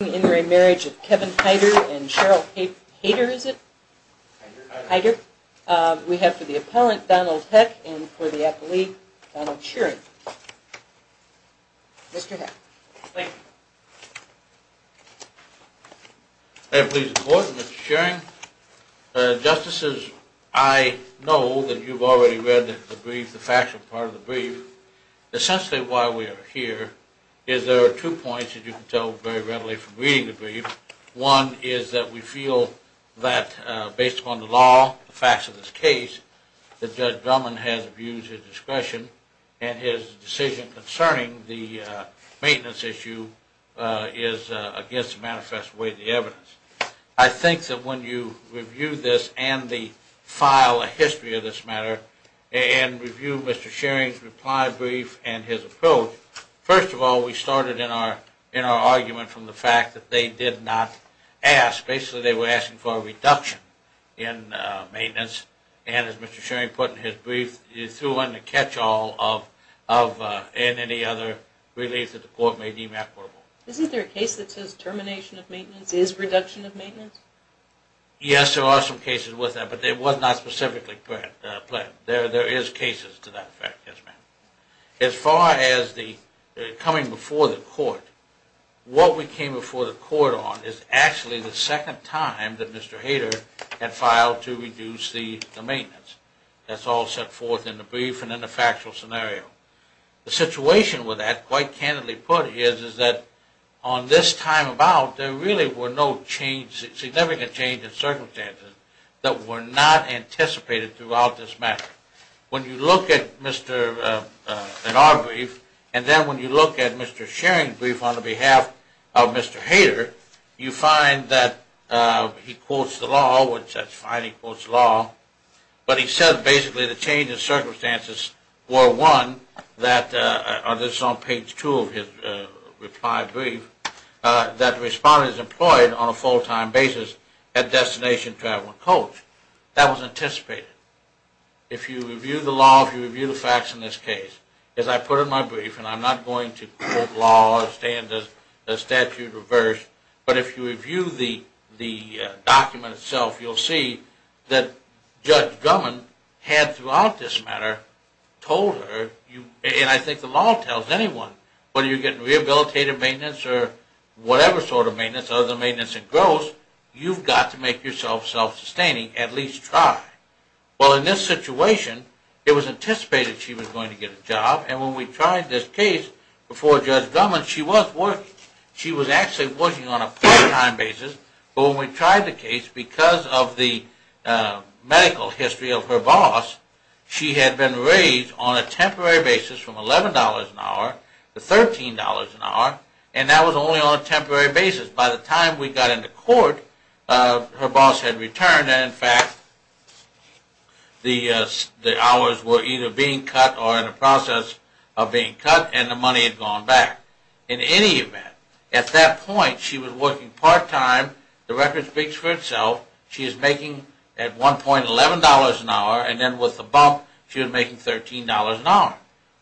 and Cheryl Haider, is it? Haider. We have for the appellant, Donald Heck, and for the appellee, Donald Shearing. Mr. Heck. May I please report, Mr. Shearing? Justices, I know that you've already read the brief, the factual part of the brief. Essentially why we are here is there are two points that you can tell very readily from reading the brief. One is that we feel that based upon the law, the facts of this case, that Judge Drummond has a view to discretion and his decision concerning the maintenance issue is against the manifest way of the evidence. I think that when you review this and the file, the First of all, we started in our argument from the fact that they did not ask. Basically they were asking for a reduction in maintenance. And as Mr. Shearing put in his brief, you threw in the catch-all of any other relief that the court may deem equitable. Isn't there a case that says termination of maintenance is reduction of maintenance? Yes, there are some cases with that, but they were not specifically planned. There is cases to that effect. As far as the coming before the court, what we came before the court on is actually the second time that Mr. Hader had filed to reduce the maintenance. That's all set forth in the brief and in the factual scenario. The situation with that, quite candidly put, is that on this time about, there really were no significant changes in circumstances that were not anticipated throughout this matter. When you look at our brief, and then when you look at Mr. Shearing's brief on behalf of Mr. Hader, you find that he quotes the law, which that's fine, he quotes the law, but he says basically the changes in circumstances were, one, that, this is on page two of his reply brief, that the respondent is employed on a full-time basis at destination travel and coach. That was anticipated. If you review the law, if you review the facts in this case, as I put in my brief, and I'm not going to quote law or stand as a statute reversed, but if you review the document itself, you'll see that Judge Drummond had throughout this matter told her, and I think the law tells anyone, whether you're getting rehabilitative maintenance or whatever sort of maintenance, other than maintenance and gross, you've got to make yourself self-sustaining, at least try. Well, in this situation, it was anticipated she was going to get a job, and when we tried this case before Judge Drummond, she was working. She was actually working on a part-time basis, but when we tried the case, because of the medical history of her boss, she had been raised on a temporary basis from $11 an hour to $13 an hour, and that was only on a temporary basis. By the time we got into court, her boss had returned, and in fact, the hours were either being cut or in the process of being cut, and the money had gone back. In any event, at that point, she was working part-time. The record speaks for itself. She is making at $1.11 an hour, and then with the bump, she was making $13 an hour.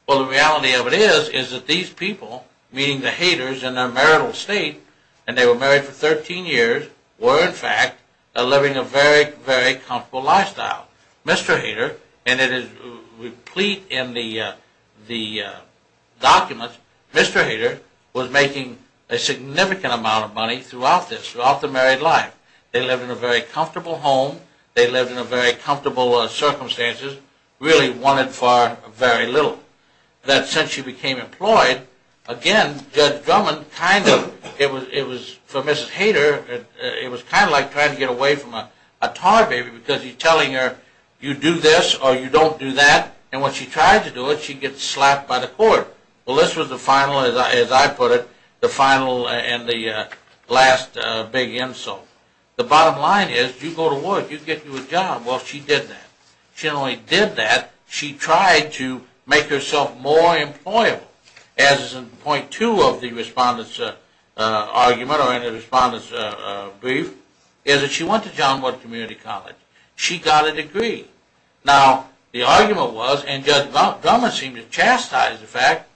Well, the reality of it is that these people, meaning the haters in their marital state, and they were married for 13 years, were in fact living a very, very comfortable lifestyle. Mr. Hater, and it is replete in the documents, Mr. Hater was making a significant amount of money throughout this, throughout the married life. They lived in a very comfortable home. They lived in a very comfortable circumstances, really wanted for very little, that since she became employed, again, Judge Drummond kind of, it was for Mrs. Hater, it was kind of like trying to get away from a tar baby because he is telling her you do this or you don't do that, and when she tried to do it, she gets slapped by the court. Well, this was the final, as I put it, the final and the last big insult. The bottom line is you go to work, you get you a job. Well, she did that. She not only did that, she tried to make herself more employable. As in point two of the respondent's argument or in the respondent's brief, is that she went to John Wood Community College. She got a degree. Now, the argument was, and Judge Drummond seemed to chastise the fact,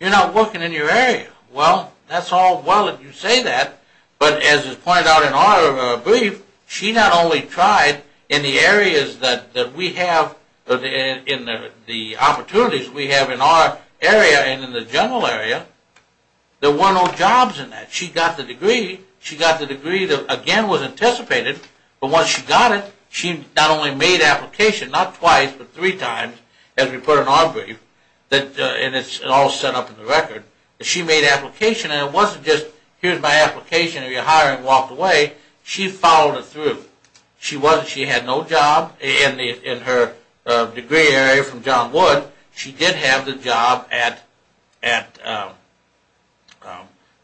you are not working in your area. Well, that is all well if you say that, but as it is pointed out in our brief, she not only tried in the areas that we have, in the opportunities we have in our area and in the general area, there were no jobs in that. She got the degree. She got the degree that, again, was anticipated, but once she got it, she not only made application not twice, but three times, as we put in our brief, and it is all set up in the record. She made application, and it was not just, here is my application, and you hire and walk away. She followed it through. She had no job in her degree area from John Wood. She did have the job at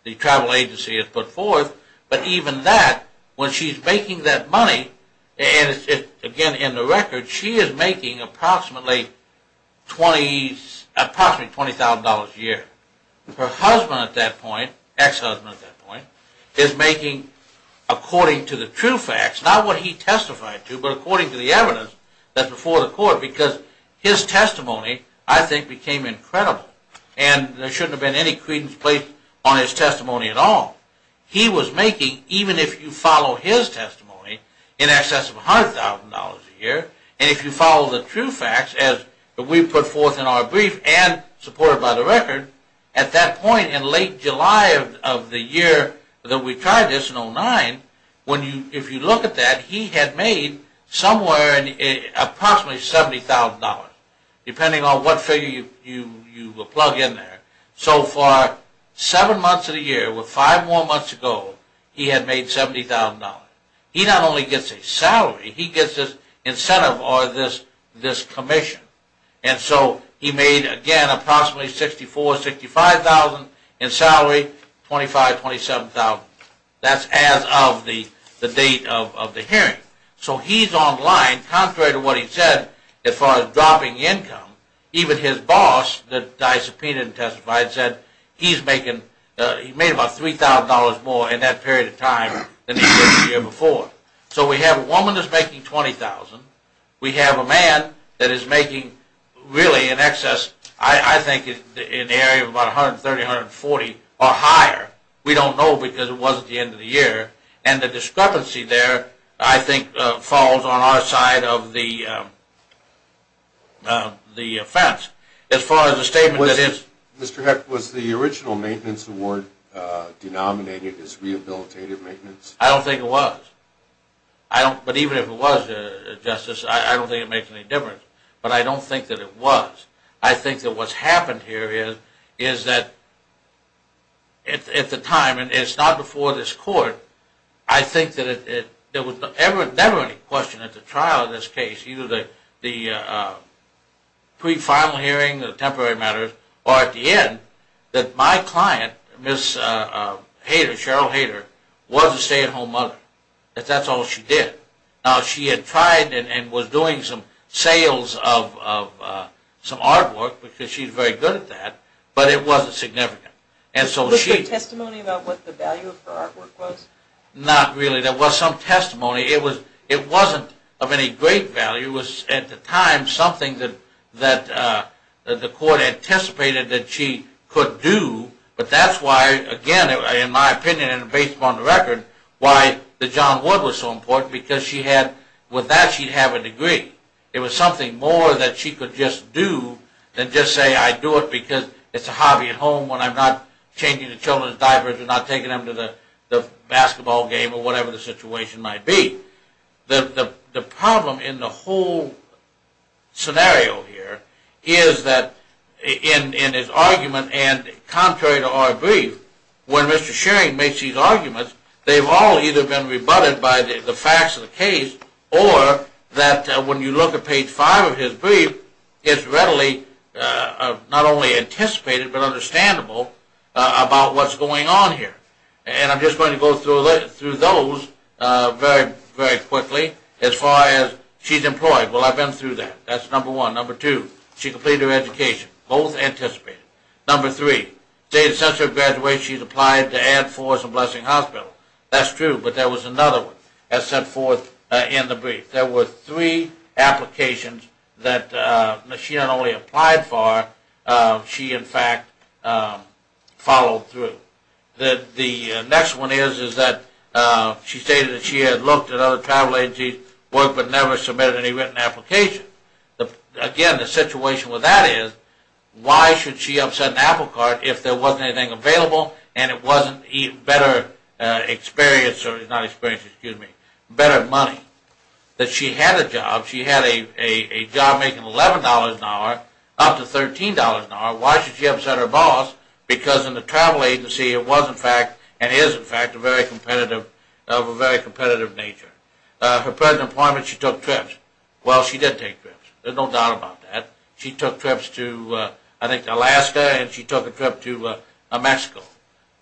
the travel agency as put forth, but even that, when she is making that money, and it is again in the record, she is making approximately $20,000 a year. That is her husband at that point, ex-husband at that point, is making according to the true facts, not what he testified to, but according to the evidence that is before the court, because his testimony, I think, became incredible, and there should not have been any credence placed on his testimony at all. He was making, even if you follow his testimony, in excess of $100,000 a year, and if you follow the true facts, as we put forth in our brief and supported by the record, at that point in late July of the year that we tried this in 2009, if you look at that, he had made somewhere in approximately $70,000, depending on what figure you plug in there. So for seven months of the year, with five more months to go, he had made $70,000. He not only gets a salary, he gets this incentive or this commission, and so he made, again, approximately $64,000, $65,000 in salary, $25,000, $27,000. That's as of the date of the hearing. So he's on line, contrary to what he said, as far as dropping income, even his boss, that I subpoenaed and testified, said he made about $3,000 more in that period of time than he did the year before. So we have a woman that's making $20,000, we have a man that is making really in excess, I think, in the area of about $130,000, $140,000 or higher. We don't know because it was at the end of the year, and the discrepancy there, I think, falls on our side of the fence. As far as the statement that is... Mr. Heck, was the original maintenance award denominated as rehabilitative maintenance? I don't think it was. But even if it was, Justice, I don't think it makes any difference. But I don't think that it was. I think that what's happened here is that at the time, and it's not before this Court, I think that there was never any question at the trial of this case, either the pre-final hearing, the temporary matters, or at the end, that my client, Ms. Hader, Cheryl Hader, was a stay-at-home mother. That's all she did. Now, she had tried and was doing some sales of some artwork because she's very good at that, but it wasn't significant. Was there testimony about what the value of her artwork was? Not really. There was some testimony. It wasn't of any great value. It was, at the time, something that the Court anticipated that she could do, but that's why, again, in my opinion, and based upon the record, why the John Wood was so important, because she had – with that, she'd have a degree. It was something more that she could just do than just say, I do it because it's a hobby at home when I'm not changing the children's diapers or not taking them to the basketball game or whatever the situation might be. The problem in the whole scenario here is that in his argument, and contrary to our brief, when Mr. Shearing makes these arguments, they've all either been rebutted by the facts of the case or that when you look at page five of his brief, it's readily not only anticipated but understandable about what's going on here. And I'm just going to go through those very, very quickly as far as she's employed. Well, I've been through that. That's number one. Number two, she completed her education. Both anticipated. Number three, since her graduation, she's applied to Add Forest and Blessing Hospital. That's true, but there was another one as set forth in the brief. There were three applications that she not only applied for, she, in fact, followed through. The next one is that she stated that she had looked at other travel agencies' work but never submitted any written application. Again, the situation with that is, why should she upset an apple cart if there wasn't anything available and it wasn't better money? That she had a job. She had a job making $11 an hour up to $13 an hour. Why should she upset her boss? Because in the travel agency, it was, in fact, and is, in fact, of a very good quality. She took trips. Well, she did take trips. There's no doubt about that. She took trips to, I think, Alaska and she took a trip to Mexico.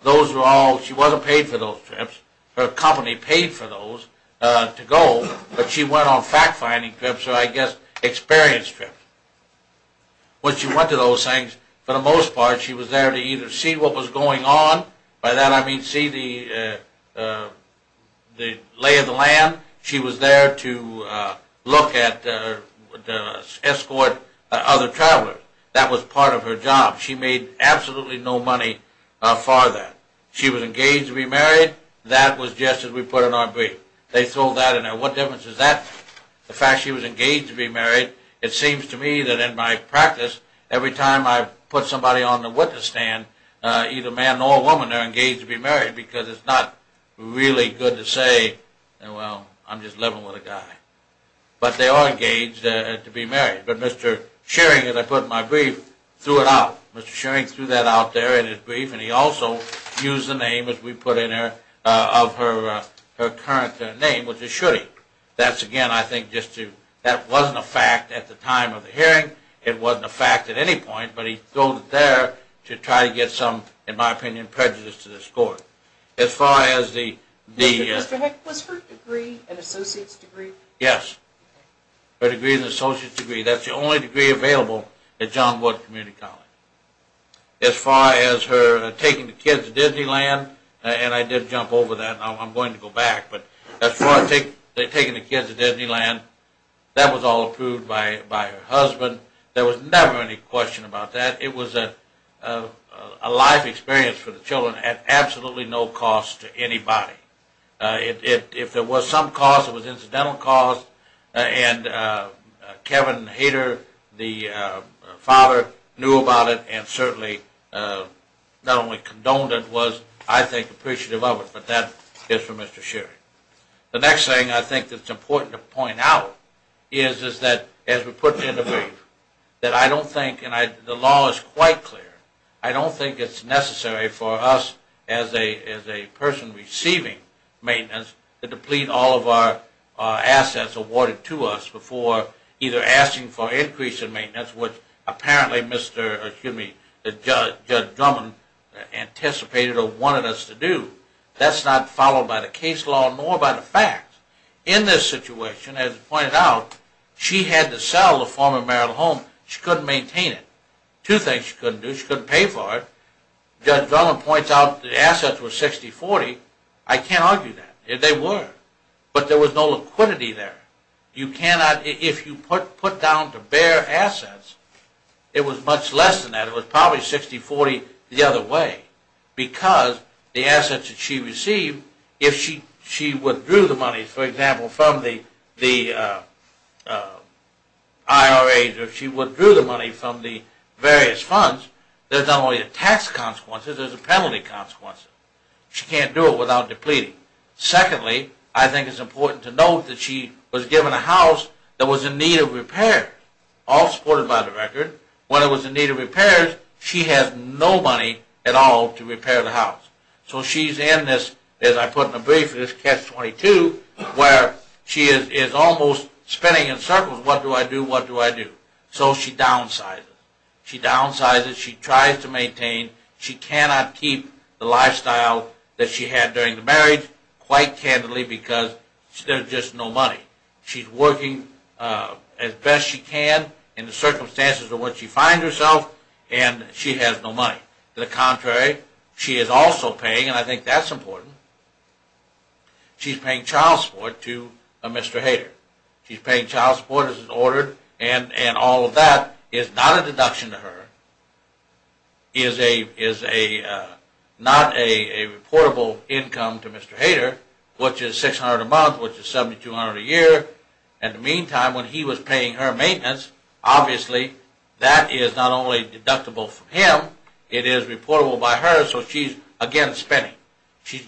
Those were all, she wasn't paid for those trips. Her company paid for those to go, but she went on fact-finding trips or, I guess, experience trips. When she went to those things, for the most part, she was there to either see what was going on. By that I mean see the lay of the land. She was there to look at, escort other travelers. That was part of her job. She made absolutely no money for that. She was engaged to be married. That was just as we put it on our brief. They throw that in there. What difference is that? The fact she was engaged to be married. It seems to me that in my practice, every time I put somebody on the witness stand, either a man or a woman, they're engaged to be married because it's not really good to say, well, I'm just living with a guy. But they are engaged to be married. But Mr. Shearing, as I put in my brief, threw it out. Mr. Shearing threw that out there in his brief, and he also used the name, as we put in there, of her current name, which is Shetty. That's, again, I think just to, that wasn't a fact at the time of the hearing. It wasn't a fact at any point, but he throwed it there to try to get some, in my opinion, prejudice to the court. As far as the... Mr. Heck, was her degree an associate's degree? Yes. Her degree is an associate's degree. That's the only degree available at John Wood Community College. As far as her taking the kids to Disneyland, and I did jump over that and I'm going to go back, but as far as taking the kids to Disneyland, that was all approved by her husband. There was never any question about that. It was a life experience for the children at absolutely no cost to anybody. If there was some cost, it was incidental cost, and Kevin Hader, the father, knew about it and certainly not only condoned it, was I think appreciative of it. But that is for Mr. Shearing. The next thing I think that's important to point out is that, as we put it in the brief, that I don't think, and the law is quite clear, I don't think it's necessary for us as a person receiving maintenance to deplete all of our assets awarded to us before either asking for increase in maintenance, which apparently Mr., excuse me, Judge Drummond anticipated or wanted us to do. That's not followed by the case law nor by the facts. In this situation, as pointed out, she had to sell the former marital home. She couldn't maintain it. Two things she couldn't do. She couldn't pay for it. Judge Drummond points out the assets were 60-40. I can't argue that. They were, but there was no liquidity there. You cannot, if you put down to bare assets, it was much less than that. It was probably 60-40 the other way, because the assets that she received, if she withdrew the money, for example, from the IRAs or if she withdrew the money from the various funds, there's not only a tax consequence, there's a penalty consequence. She can't do it without depleting. Secondly, I think it's important to note that she was given a house that was in need of repairs, all supported by the record. When it was in need of repairs, she had no money at all to repair the house. So she's in this, as I put in the brief, this catch-22, where she is almost spinning in circles. What do I do? What do I do? So she downsizes. She downsizes. She tries to maintain. She cannot keep the lifestyle that she had during the marriage, quite candidly, because there's just no money. She's working as best she can in the circumstances in which she finds herself, and she has no money. To the contrary, she is also paying, and I think that's important, she's paying child support to a Mr. Hader. She's paying child support, as is ordered, and all of that is not a deduction to her, is not a reportable income to Mr. Hader, which is $600 a month, which is $7,200 a year. In the meantime, when he was paying her maintenance, obviously that is not only deductible from him, it is reportable by her, so she's, again, spinning. She's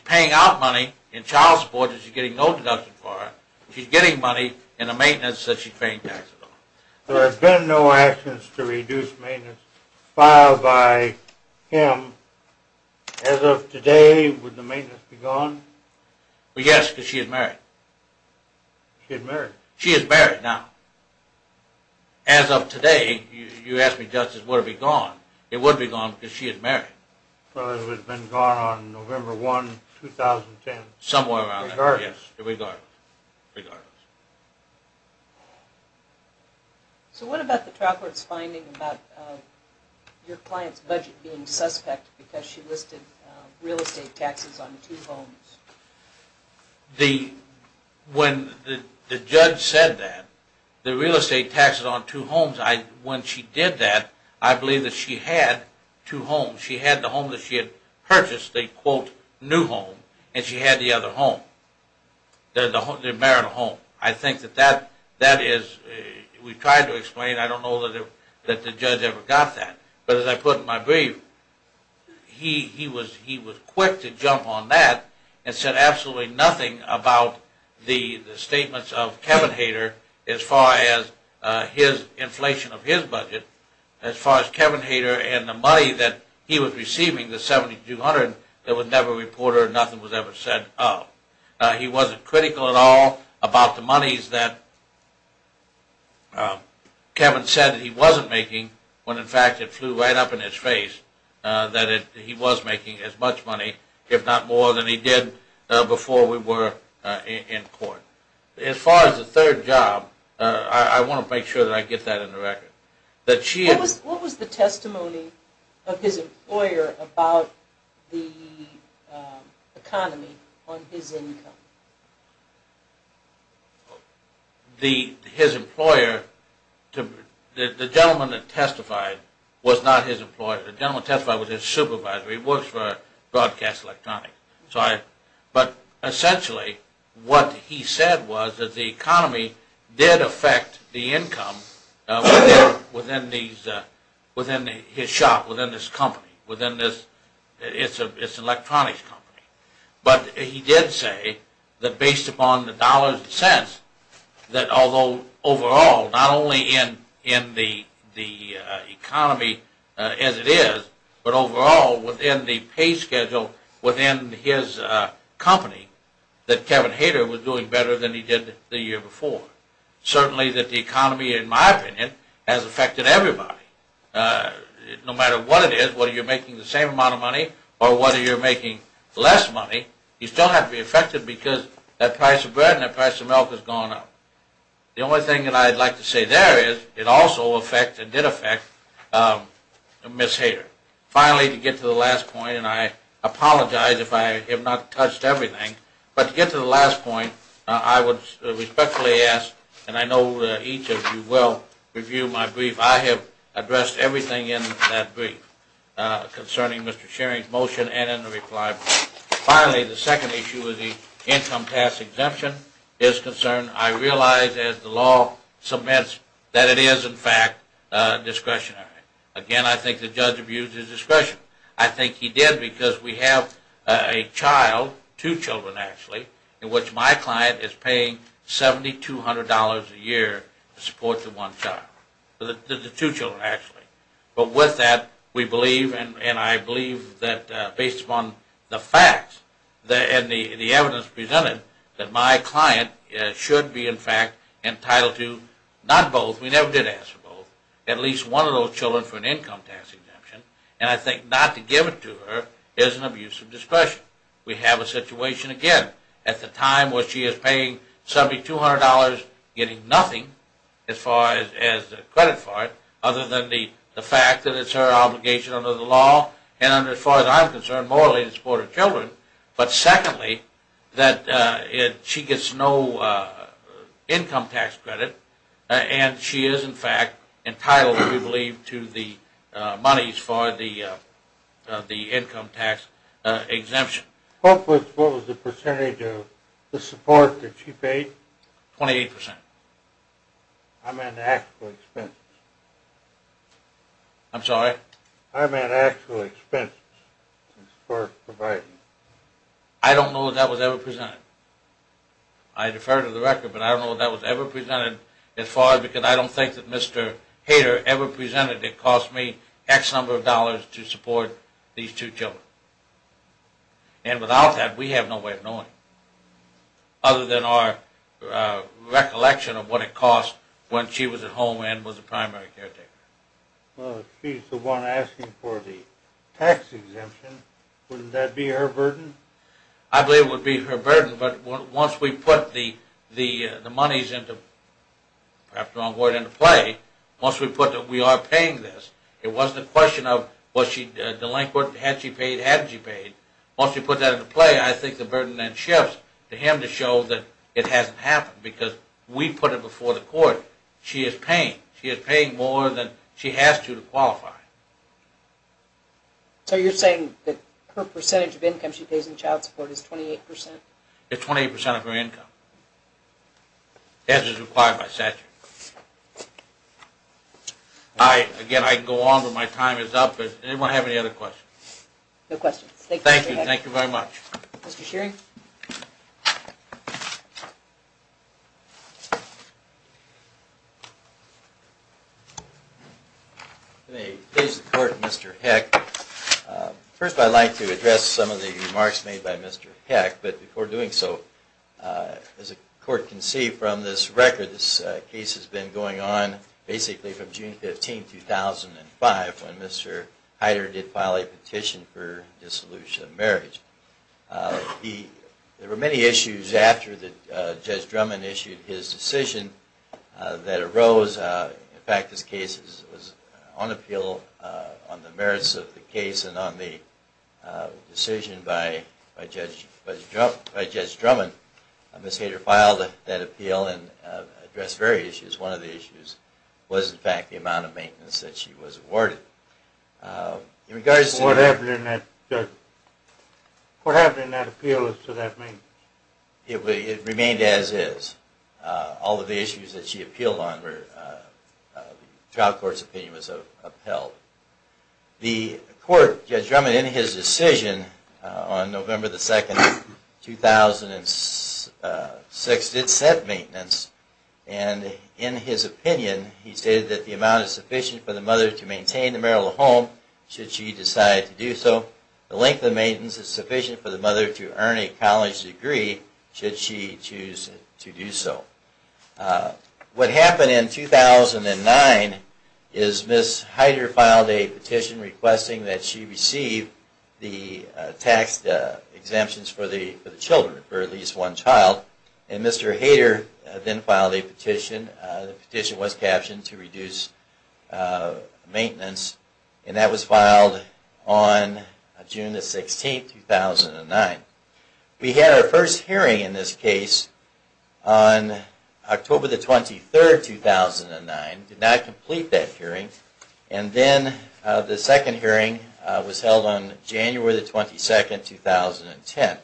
paying out money in child support, and she's getting no deduction for it. She's getting money in the maintenance that she's paying taxes on. There have been no actions to reduce maintenance filed by him. As of today, would the maintenance be gone? Yes, because she is married. She is married. She is married now. As of today, you ask me, Justice, would it be gone? It would be gone because she is married. Well, it would have been gone on November 1, 2010. Somewhere around there, yes. Regardless. Regardless. So what about the trial court's finding about your client's budget being suspect because she listed real estate taxes on two homes? The, when the judge said that, the real estate taxes on two homes, when she did that, I believe that she had two homes. She had the home that she had purchased, the, quote, new home, and she had the other home, the marital home. I think that that is, we tried to explain. I don't know that the judge ever got that. But as I put in my brief, he was quick to jump on that and said absolutely nothing about the statements of Kevin Hader as far as his inflation of his budget, as far as Kevin Hader and the money that he was receiving, the $7,200, there was never a reporter, nothing was ever said of. He wasn't critical at all about the monies that Kevin said that he wasn't making when, in fact, it flew right up in his face that he was making as much money, if not more, than he did before we were in court. As far as the third job, I want to make sure that I get that in the record. What was the testimony of his employer about the economy on his income? The, his employer, the gentleman that testified was not his employer. The gentleman that testified was his supervisor. He works for Broadcast Electronics. But essentially, what he said was that the economy did affect the income within his shop, within this company, within this, it's an electronics company. But he did say that based upon the dollars and cents that although overall, not only in the economy as it is, but overall within the pay schedule within his company, that Kevin Hader was doing better than he did the year before. Certainly that the economy, in my opinion, has affected everybody. No matter what it is, whether you're making the same amount of money or whether you're making less money, you still have to be affected because that price of bread and that price of milk has gone up. The only thing that I'd like to say there is it also affected, did affect Ms. Hader. Finally, to get to the last point, and I apologize if I have not touched everything, but to get to the last point, I would respectfully ask, and I know each of you will review my brief, I have addressed everything in that brief concerning Mr. Shearing's motion and in the reply. Finally, the second issue is the income tax exemption is concerned. I realize as the law submits that it is, in fact, discretionary. Again, I think the judge abused his discretion. I think he did because we have a child, two children actually, in which my client is paying $7,200 a year to support the one child, the two children actually. But with that, we believe and I believe that based upon the facts and the evidence presented that my client should be, in fact, entitled to not both, we never did ask for both, at least one of those children for an income tax exemption, and I think not to give it to her is an abuse of discretion. We have a situation, again, at the time where she is paying $7,200, getting nothing as far as credit for it other than the fact that it's her obligation under the law and as far as I'm concerned, morally, to support her children, but secondly, that she gets no income tax credit and she is, in fact, entitled, we believe, to the monies for the income tax exemption. What was the percentage of the support that she paid? 28%. I meant actual expenses. I'm sorry? I meant actual expenses for providing. I don't know if that was ever presented. I defer to the record, but I don't know if that was ever presented as far as, because I don't think that Mr. Hader ever presented it cost me X number of dollars to support these two children. And without that, we have no way of knowing other than our recollection of what it cost when she was at home and was a primary caretaker. Well, if she's the one asking for the tax exemption, wouldn't that be her burden? I believe it would be her burden, but once we put the monies into, perhaps the wrong word, into play, once we put that we are paying this, it wasn't a question of was she delinquent, had she paid, had she paid. Once we put that into play, I think the burden then shifts to him to show that it hasn't happened because we put it before the court. She is paying. She is paying more than she has to to qualify. So you're saying that her percentage of income she pays in child support is 28%? It's 28% of her income, as is required by statute. Again, I can go on, but my time is up. Does anyone have any other questions? No questions. Thank you. Thank you very much. Mr. Shearing? May I please report to Mr. Heck? First, I'd like to address some of the remarks made by Mr. Heck, but before doing so, as the court can see from this record, this case has been going on basically from June 15, 2005, when Mr. Heider did file a petition for dissolution of marriage. There were many issues after Judge Drummond issued his decision that arose. In fact, this case was on appeal on the merits of the case and on the decision by Judge Drummond. Ms. Heider filed that appeal and addressed various issues. One of the issues was, in fact, the amount of maintenance that she was awarded. What happened in that appeal as to that maintenance? It remained as is. All of the issues that she appealed on, the trial court's opinion was upheld. The court, Judge Drummond, in his decision on November 2, 2006, did set maintenance, and in his opinion, he stated that the amount is sufficient for the mother to maintain the marital home, should she decide to do so. The length of maintenance is sufficient for the mother to earn a college degree, should she choose to do so. What happened in 2009 is Ms. Heider filed a petition requesting that she receive the tax exemptions for the children, for at least one child. Mr. Heider then filed a petition, the petition was captioned to reduce maintenance, and that was filed on June 16, 2009. We had our first hearing in this case on October 23, 2009, did not complete that hearing, and then the second hearing was held on January 22, 2010.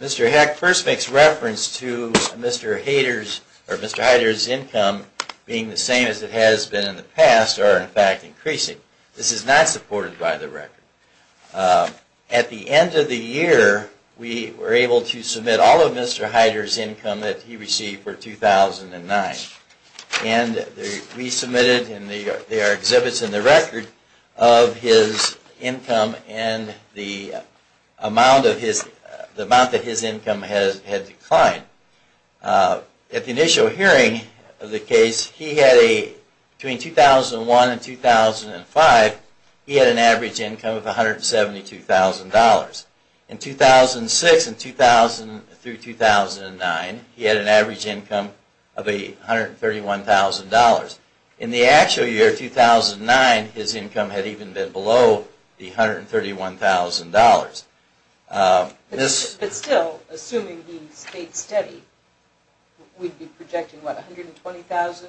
Mr. Heck first makes reference to Mr. Heider's income being the same as it has been in the past, or in fact, increasing. This is not supported by the record. At the end of the year, we were able to submit all of Mr. Heider's income that he received for 2009, and we submitted, and there are exhibits in the record of his income and the amount that his income had declined. At the initial hearing of the case, between 2001 and 2005, he had an average income of $172,000. In 2006 through 2009, he had an average income of $131,000. In the actual year, 2009, his income had even been below the $131,000. But still, assuming the state study, we would be projecting $120,000,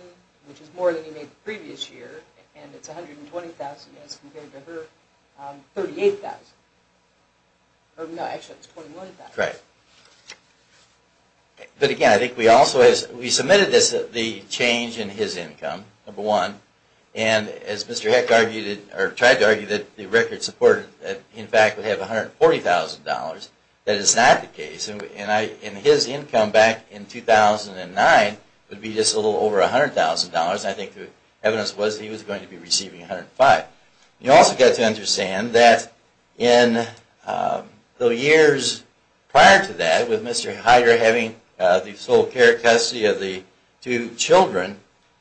which is more than he made the previous year, and it is $120,000 as compared to her $38,000. Actually, it is $21,000. But again, I think we submitted the change in his income, number one, and as Mr. Heck argued, or tried to argue, that the record supported that he in fact would have $140,000. That is not the case, and his income back in 2009 would be just a little over $100,000. I think the evidence was that he was going to be receiving $105,000. You also have to understand that in the years prior to that, with Mr. Heider having the sole care of custody of the two children,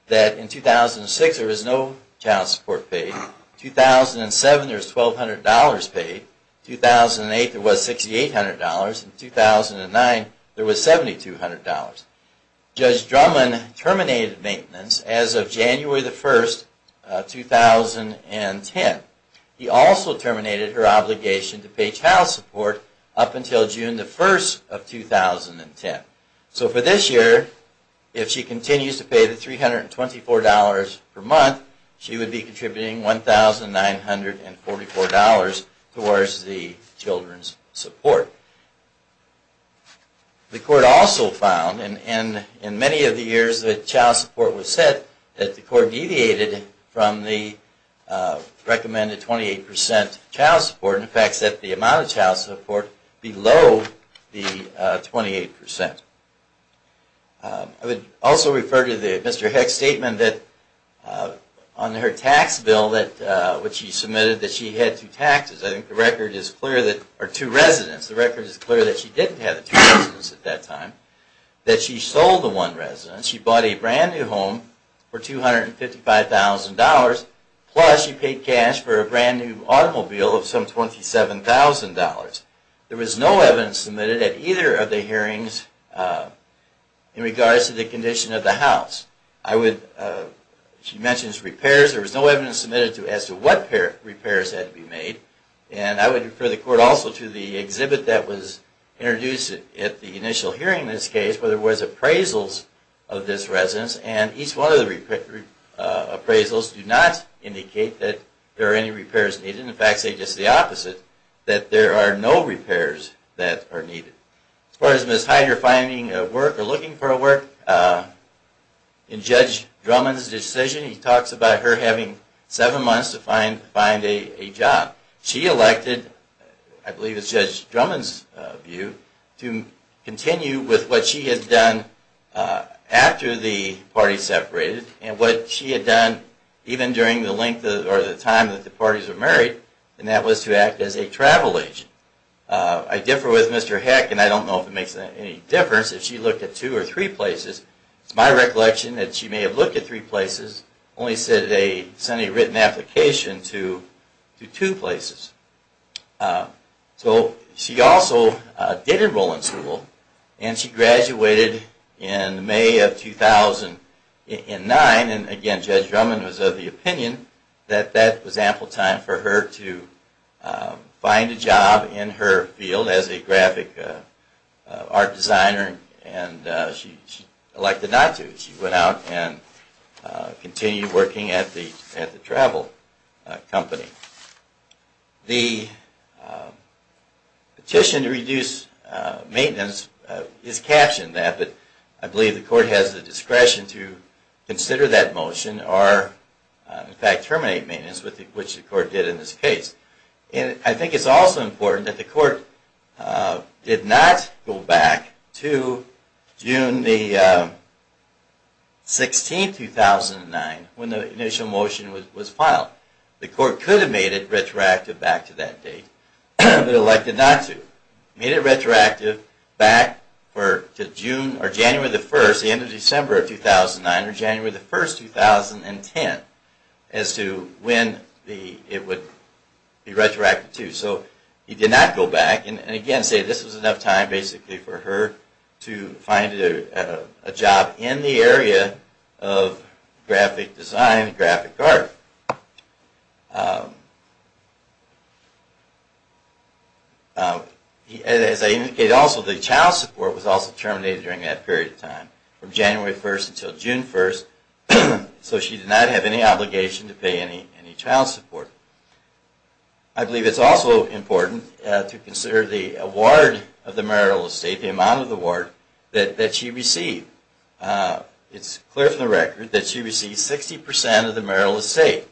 that in 2006 there was no child support paid. In 2007, there was $1,200 paid. In 2008, there was $6,800. In 2009, there was $7,200. Judge Drummond terminated maintenance as of January 1, 2010. He also terminated her obligation to pay child support up until June 1, 2010. So for this year, if she continues to pay the $324 per month, she would be contributing $1,944 towards the children's support. The court also found, and in many of the years that child support was set, that the court deviated from the recommended 28% child support, and in fact set the amount of child support below the 28%. I would also refer to Mr. Heck's statement that on her tax bill, which she submitted, that she had two residents, the record is clear that she didn't have two residents at that time, that she sold the one resident, she bought a brand new home for $255,000, plus she paid cash for a brand new automobile of some $27,000. There was no evidence submitted at either of the hearings in regards to the condition of the house. She mentions repairs, there was no evidence submitted as to what repairs had to be made, and I would refer the court also to the exhibit that was introduced at the initial hearing in this case, where there was appraisals of this residence, and each one of the appraisals do not indicate that there are any repairs needed, in fact say just the opposite, that there are no repairs that are needed. As far as Ms. Heider finding a work, or looking for a work, in Judge Drummond's decision he talks about her having seven months to find a job. She elected, I believe it's Judge Drummond's view, to continue with what she had done after the parties separated, and what she had done even during the length or the time that the parties were married, and that was to act as a travel agent. I differ with Mr. Heck, and I don't know if it makes any difference if she looked at two or three places. It's my recollection that she may have looked at three places, only sent a written application to two places. So she also did enroll in school, and she graduated in May of 2009, and again Judge Drummond was of the opinion that that was ample time for her to find a job in her field as a graphic art designer, and she elected not to. She went out and continued working at the travel company. The petition to reduce maintenance is captioned that, but I believe the Court has the discretion to consider that motion, or in fact terminate maintenance, which the Court did in this case. I think it's also important that the Court did not go back to June 16, 2009 when the initial motion was filed. The Court could have made it retroactive back to that date, but elected not to. Made it retroactive back to January 1, the end of December 2009, or January 1, 2010 as to when it would be retroactive to. So he did not go back, and again say this was enough time basically for her to find a job in the area of graphic design and graphic art. As I indicated also, the child support was also terminated during that period of time from January 1 until June 1, so she did not have any obligation to pay any child support. I believe it's also important to consider the award of the marital estate, the amount of the award that she received. It's clear from the record that she received 60% of the marital estate.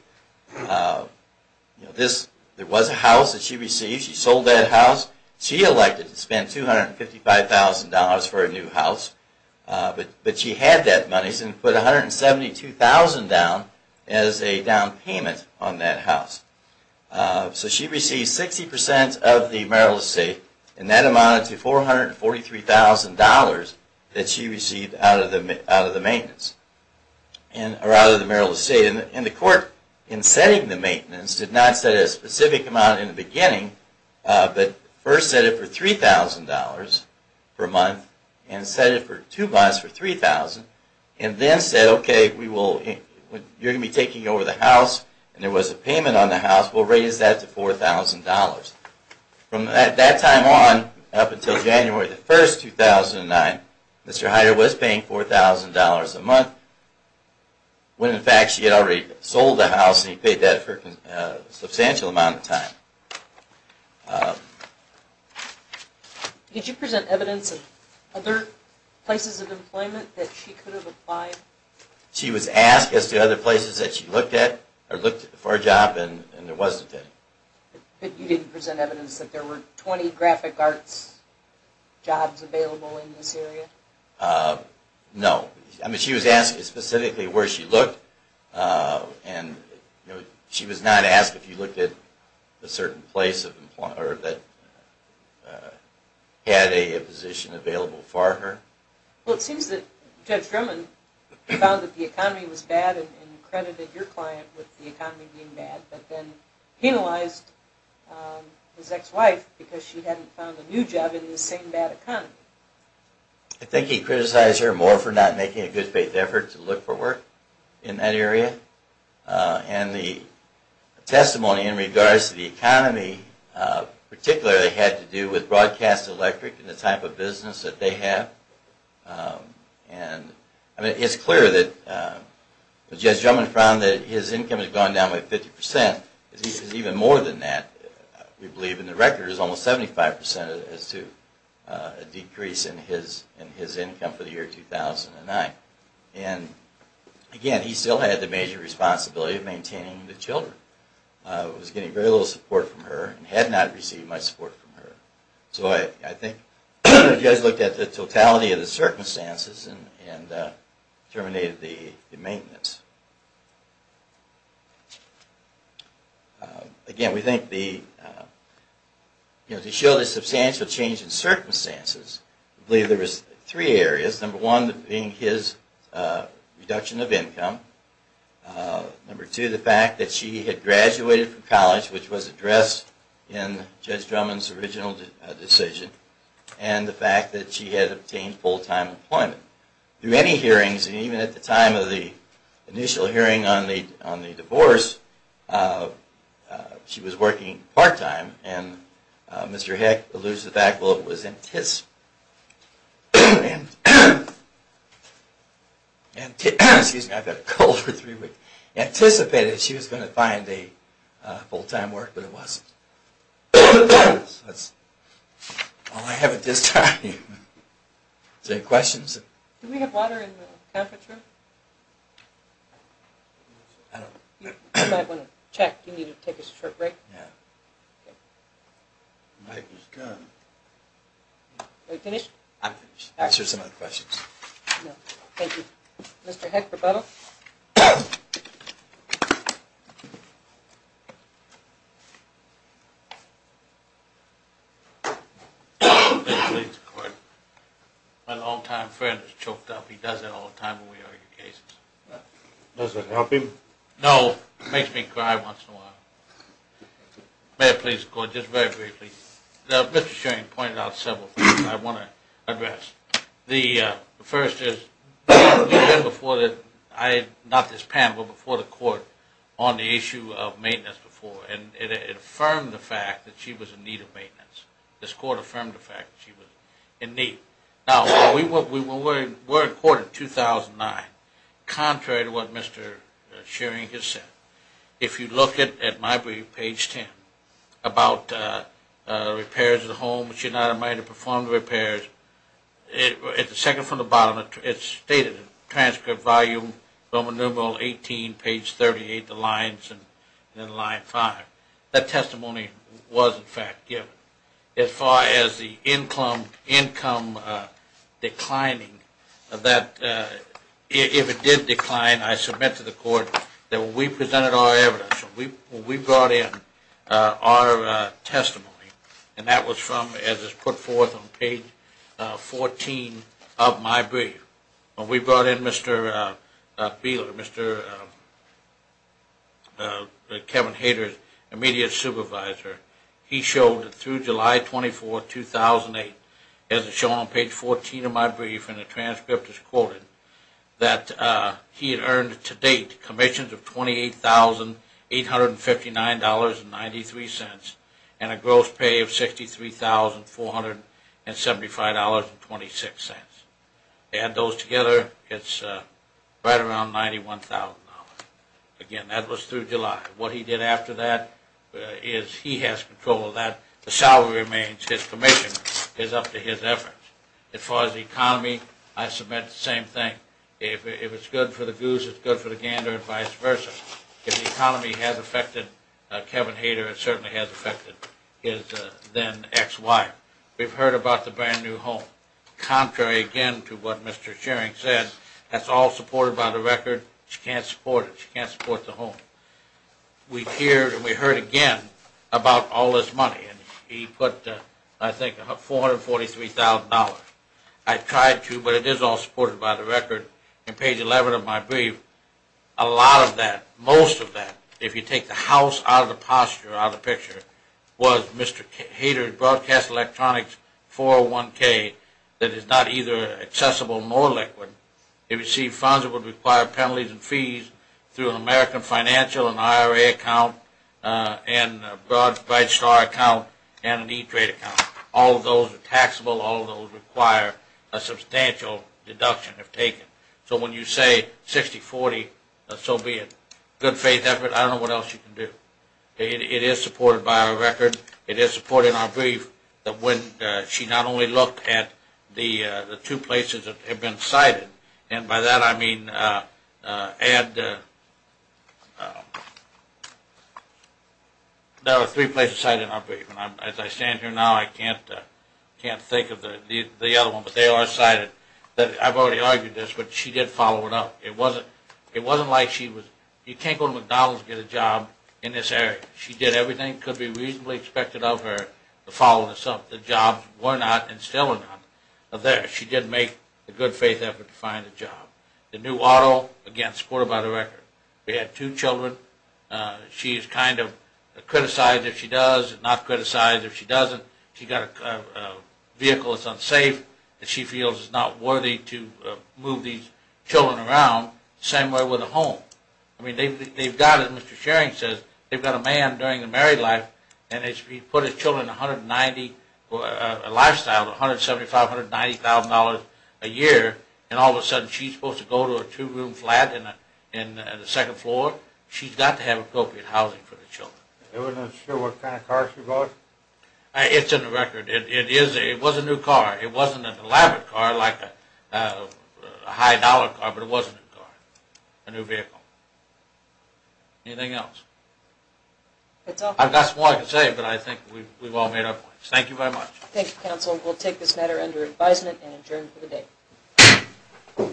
There was a house that she received. She sold that house. She elected to spend $255,000 for a new house. But she had that money, so she put $172,000 down as a down payment on that house. So she received 60% of the marital estate, and that amounted to $443,000 that she received out of the marital estate. And the Court, in setting the maintenance, did not set a specific amount in the beginning, but first set it for $3,000 for a month, and set it for two months for $3,000, and then said, OK, you're going to be taking over the house, and there was a payment on the house, we'll raise that to $4,000. From that time on, up until January 1, 2009, Mr. Heider was paying $4,000 a month, when in fact she had already sold the house and he paid that for a substantial amount of time. Um... Did you present evidence of other places of employment that she could have applied? She was asked as to other places that she looked at, or looked for a job, and there wasn't any. But you didn't present evidence that there were 20 graphic arts jobs available in this area? Uh, no. I mean, she was asked specifically where she looked, and she was not asked if you looked at a certain place that had a position available for her? Well, it seems that Judge Drummond found that the economy was bad and credited your client with the economy being bad, but then penalized his ex-wife because she hadn't found a new job in the same bad economy. I think he criticized her more for not making a good-faith effort to look for work in that area. And the testimony in regards to the economy particularly had to do with Broadcast Electric and the type of business that they have. Um, and... I mean, it's clear that Judge Drummond found that his income had gone down by 50%, because even more than that, we believe in the record, is almost 75% as to a decrease in his income for the year 2009. And, again, he still had the major responsibility of maintaining the children. Uh, he was getting very little support from her, and had not received much support from her. So I think Judge looked at the totality of the circumstances and, uh, terminated the maintenance. Uh, again, we think the, uh, you know, to show the substantial change in circumstances, we believe there was three areas. Number one, being his, uh, reduction of income. Uh, number two, the fact that she had graduated from college, which was addressed in Judge Drummond's original decision. And the fact that she had obtained full-time employment. Through many hearings, and even at the time of the initial hearing on the divorce, uh, she was working part-time. And, uh, Mr. Heck alludes to the fact that it was in his... excuse me, I've got a cold for three weeks. Anticipated she was going to find a, uh, full-time work, but it wasn't. That's all I have at this time. Is there any questions? Do we have water in the conference room? I don't... You might want to check. You need to take a short break. Yeah. Mike was gone. Are you finished? I'm finished. I'll answer some other questions. Thank you. Mr. Heck, rebuttal. May it please the court. My long-time friend is choked up. He does that all the time when we argue cases. Does it help him? No, it makes me cry once in a while. May it please the court, just very briefly. Mr. Shearing pointed out several things I want to address. The, uh, first is... we've been before the... not this panel, but before the court on the issue of maintenance before and it affirmed the fact that she was in need of maintenance. This court affirmed the fact that she was in need. Now, we were in court in 2009. Contrary to what Mr. Shearing has said, if you look at my brief, page 10, about repairs of the home, she and I might have performed repairs, at the second from the bottom, it's stated, transcript, volume, Roman numeral 18, page 38, the lines, and then line 5. That testimony was, in fact, given. As far as the income declining, that, if it did decline, I submit to the court that when we presented our evidence, when we brought in our testimony, and that was from, as is put forth on page 14 of my brief, when we brought in Mr. Bieler, Mr. Kevin Hader, immediate supervisor, he showed that through July 24, 2008, as is shown on page 14 of my brief and the transcript is quoted, that he had earned to date commissions of $28,859.93 and a gross pay of $63,475.26. Add those together, it's right around $91,000. Again, that was through July. What he did after that is he has control of that. The salary remains his commission is up to his efforts. As far as the economy, I submit the same thing. If the economy has affected Kevin Hader, it certainly has affected his then ex-wife. We've heard about the brand new home. Contrary again to what Mr. Schering said, that's all supported by the record. She can't support it. She can't support the home. We heard again about all this money and he put, I think, $443,000. I tried to, but it is all supported by the record. On page 11 of my brief, a lot of that, most of that, if you take the house out of the picture was Mr. Hader's Broadcast Electronics 401k that is not either accessible nor liquid. It received funds that would require penalties and fees through an American Financial, an IRA account, and a Bright Star account All of those are taxable. All of those require a substantial deduction if taken. So when you say $60,000, $40,000 so be it. Good faith effort. I don't know what else you can do. It is supported by our record. It is supported in our brief that when she not only looked at the two places that have been cited and by that I mean there are three places cited in our brief and as I stand here now I can't think of the other one but they are cited. I've already argued this but she did follow it up. It wasn't like she was you can't go to McDonald's and get a job in this area. She did everything that could be reasonably expected of her to follow this up. The jobs were not and still are not there. She did make a good faith effort to find a job. The new auto, again, supported by the record. We had two children. She feels it's not worthy to move these children around the same way with a home. They've got, as Mr. Schering says, they've got a man during a married life and he's put his children a lifestyle of $175,000, $190,000 a year and all of a sudden she's supposed to go to a two room flat and a second floor. She's got to have appropriate housing for the children. It's in the record. It was a new car. It was a private car like a high dollar car but it wasn't a car, a new vehicle. Anything else? I've got some more I can say but I think we've all made our points. Thank you very much. Thank you, counsel. We'll take this matter under advisement and adjourn for the day.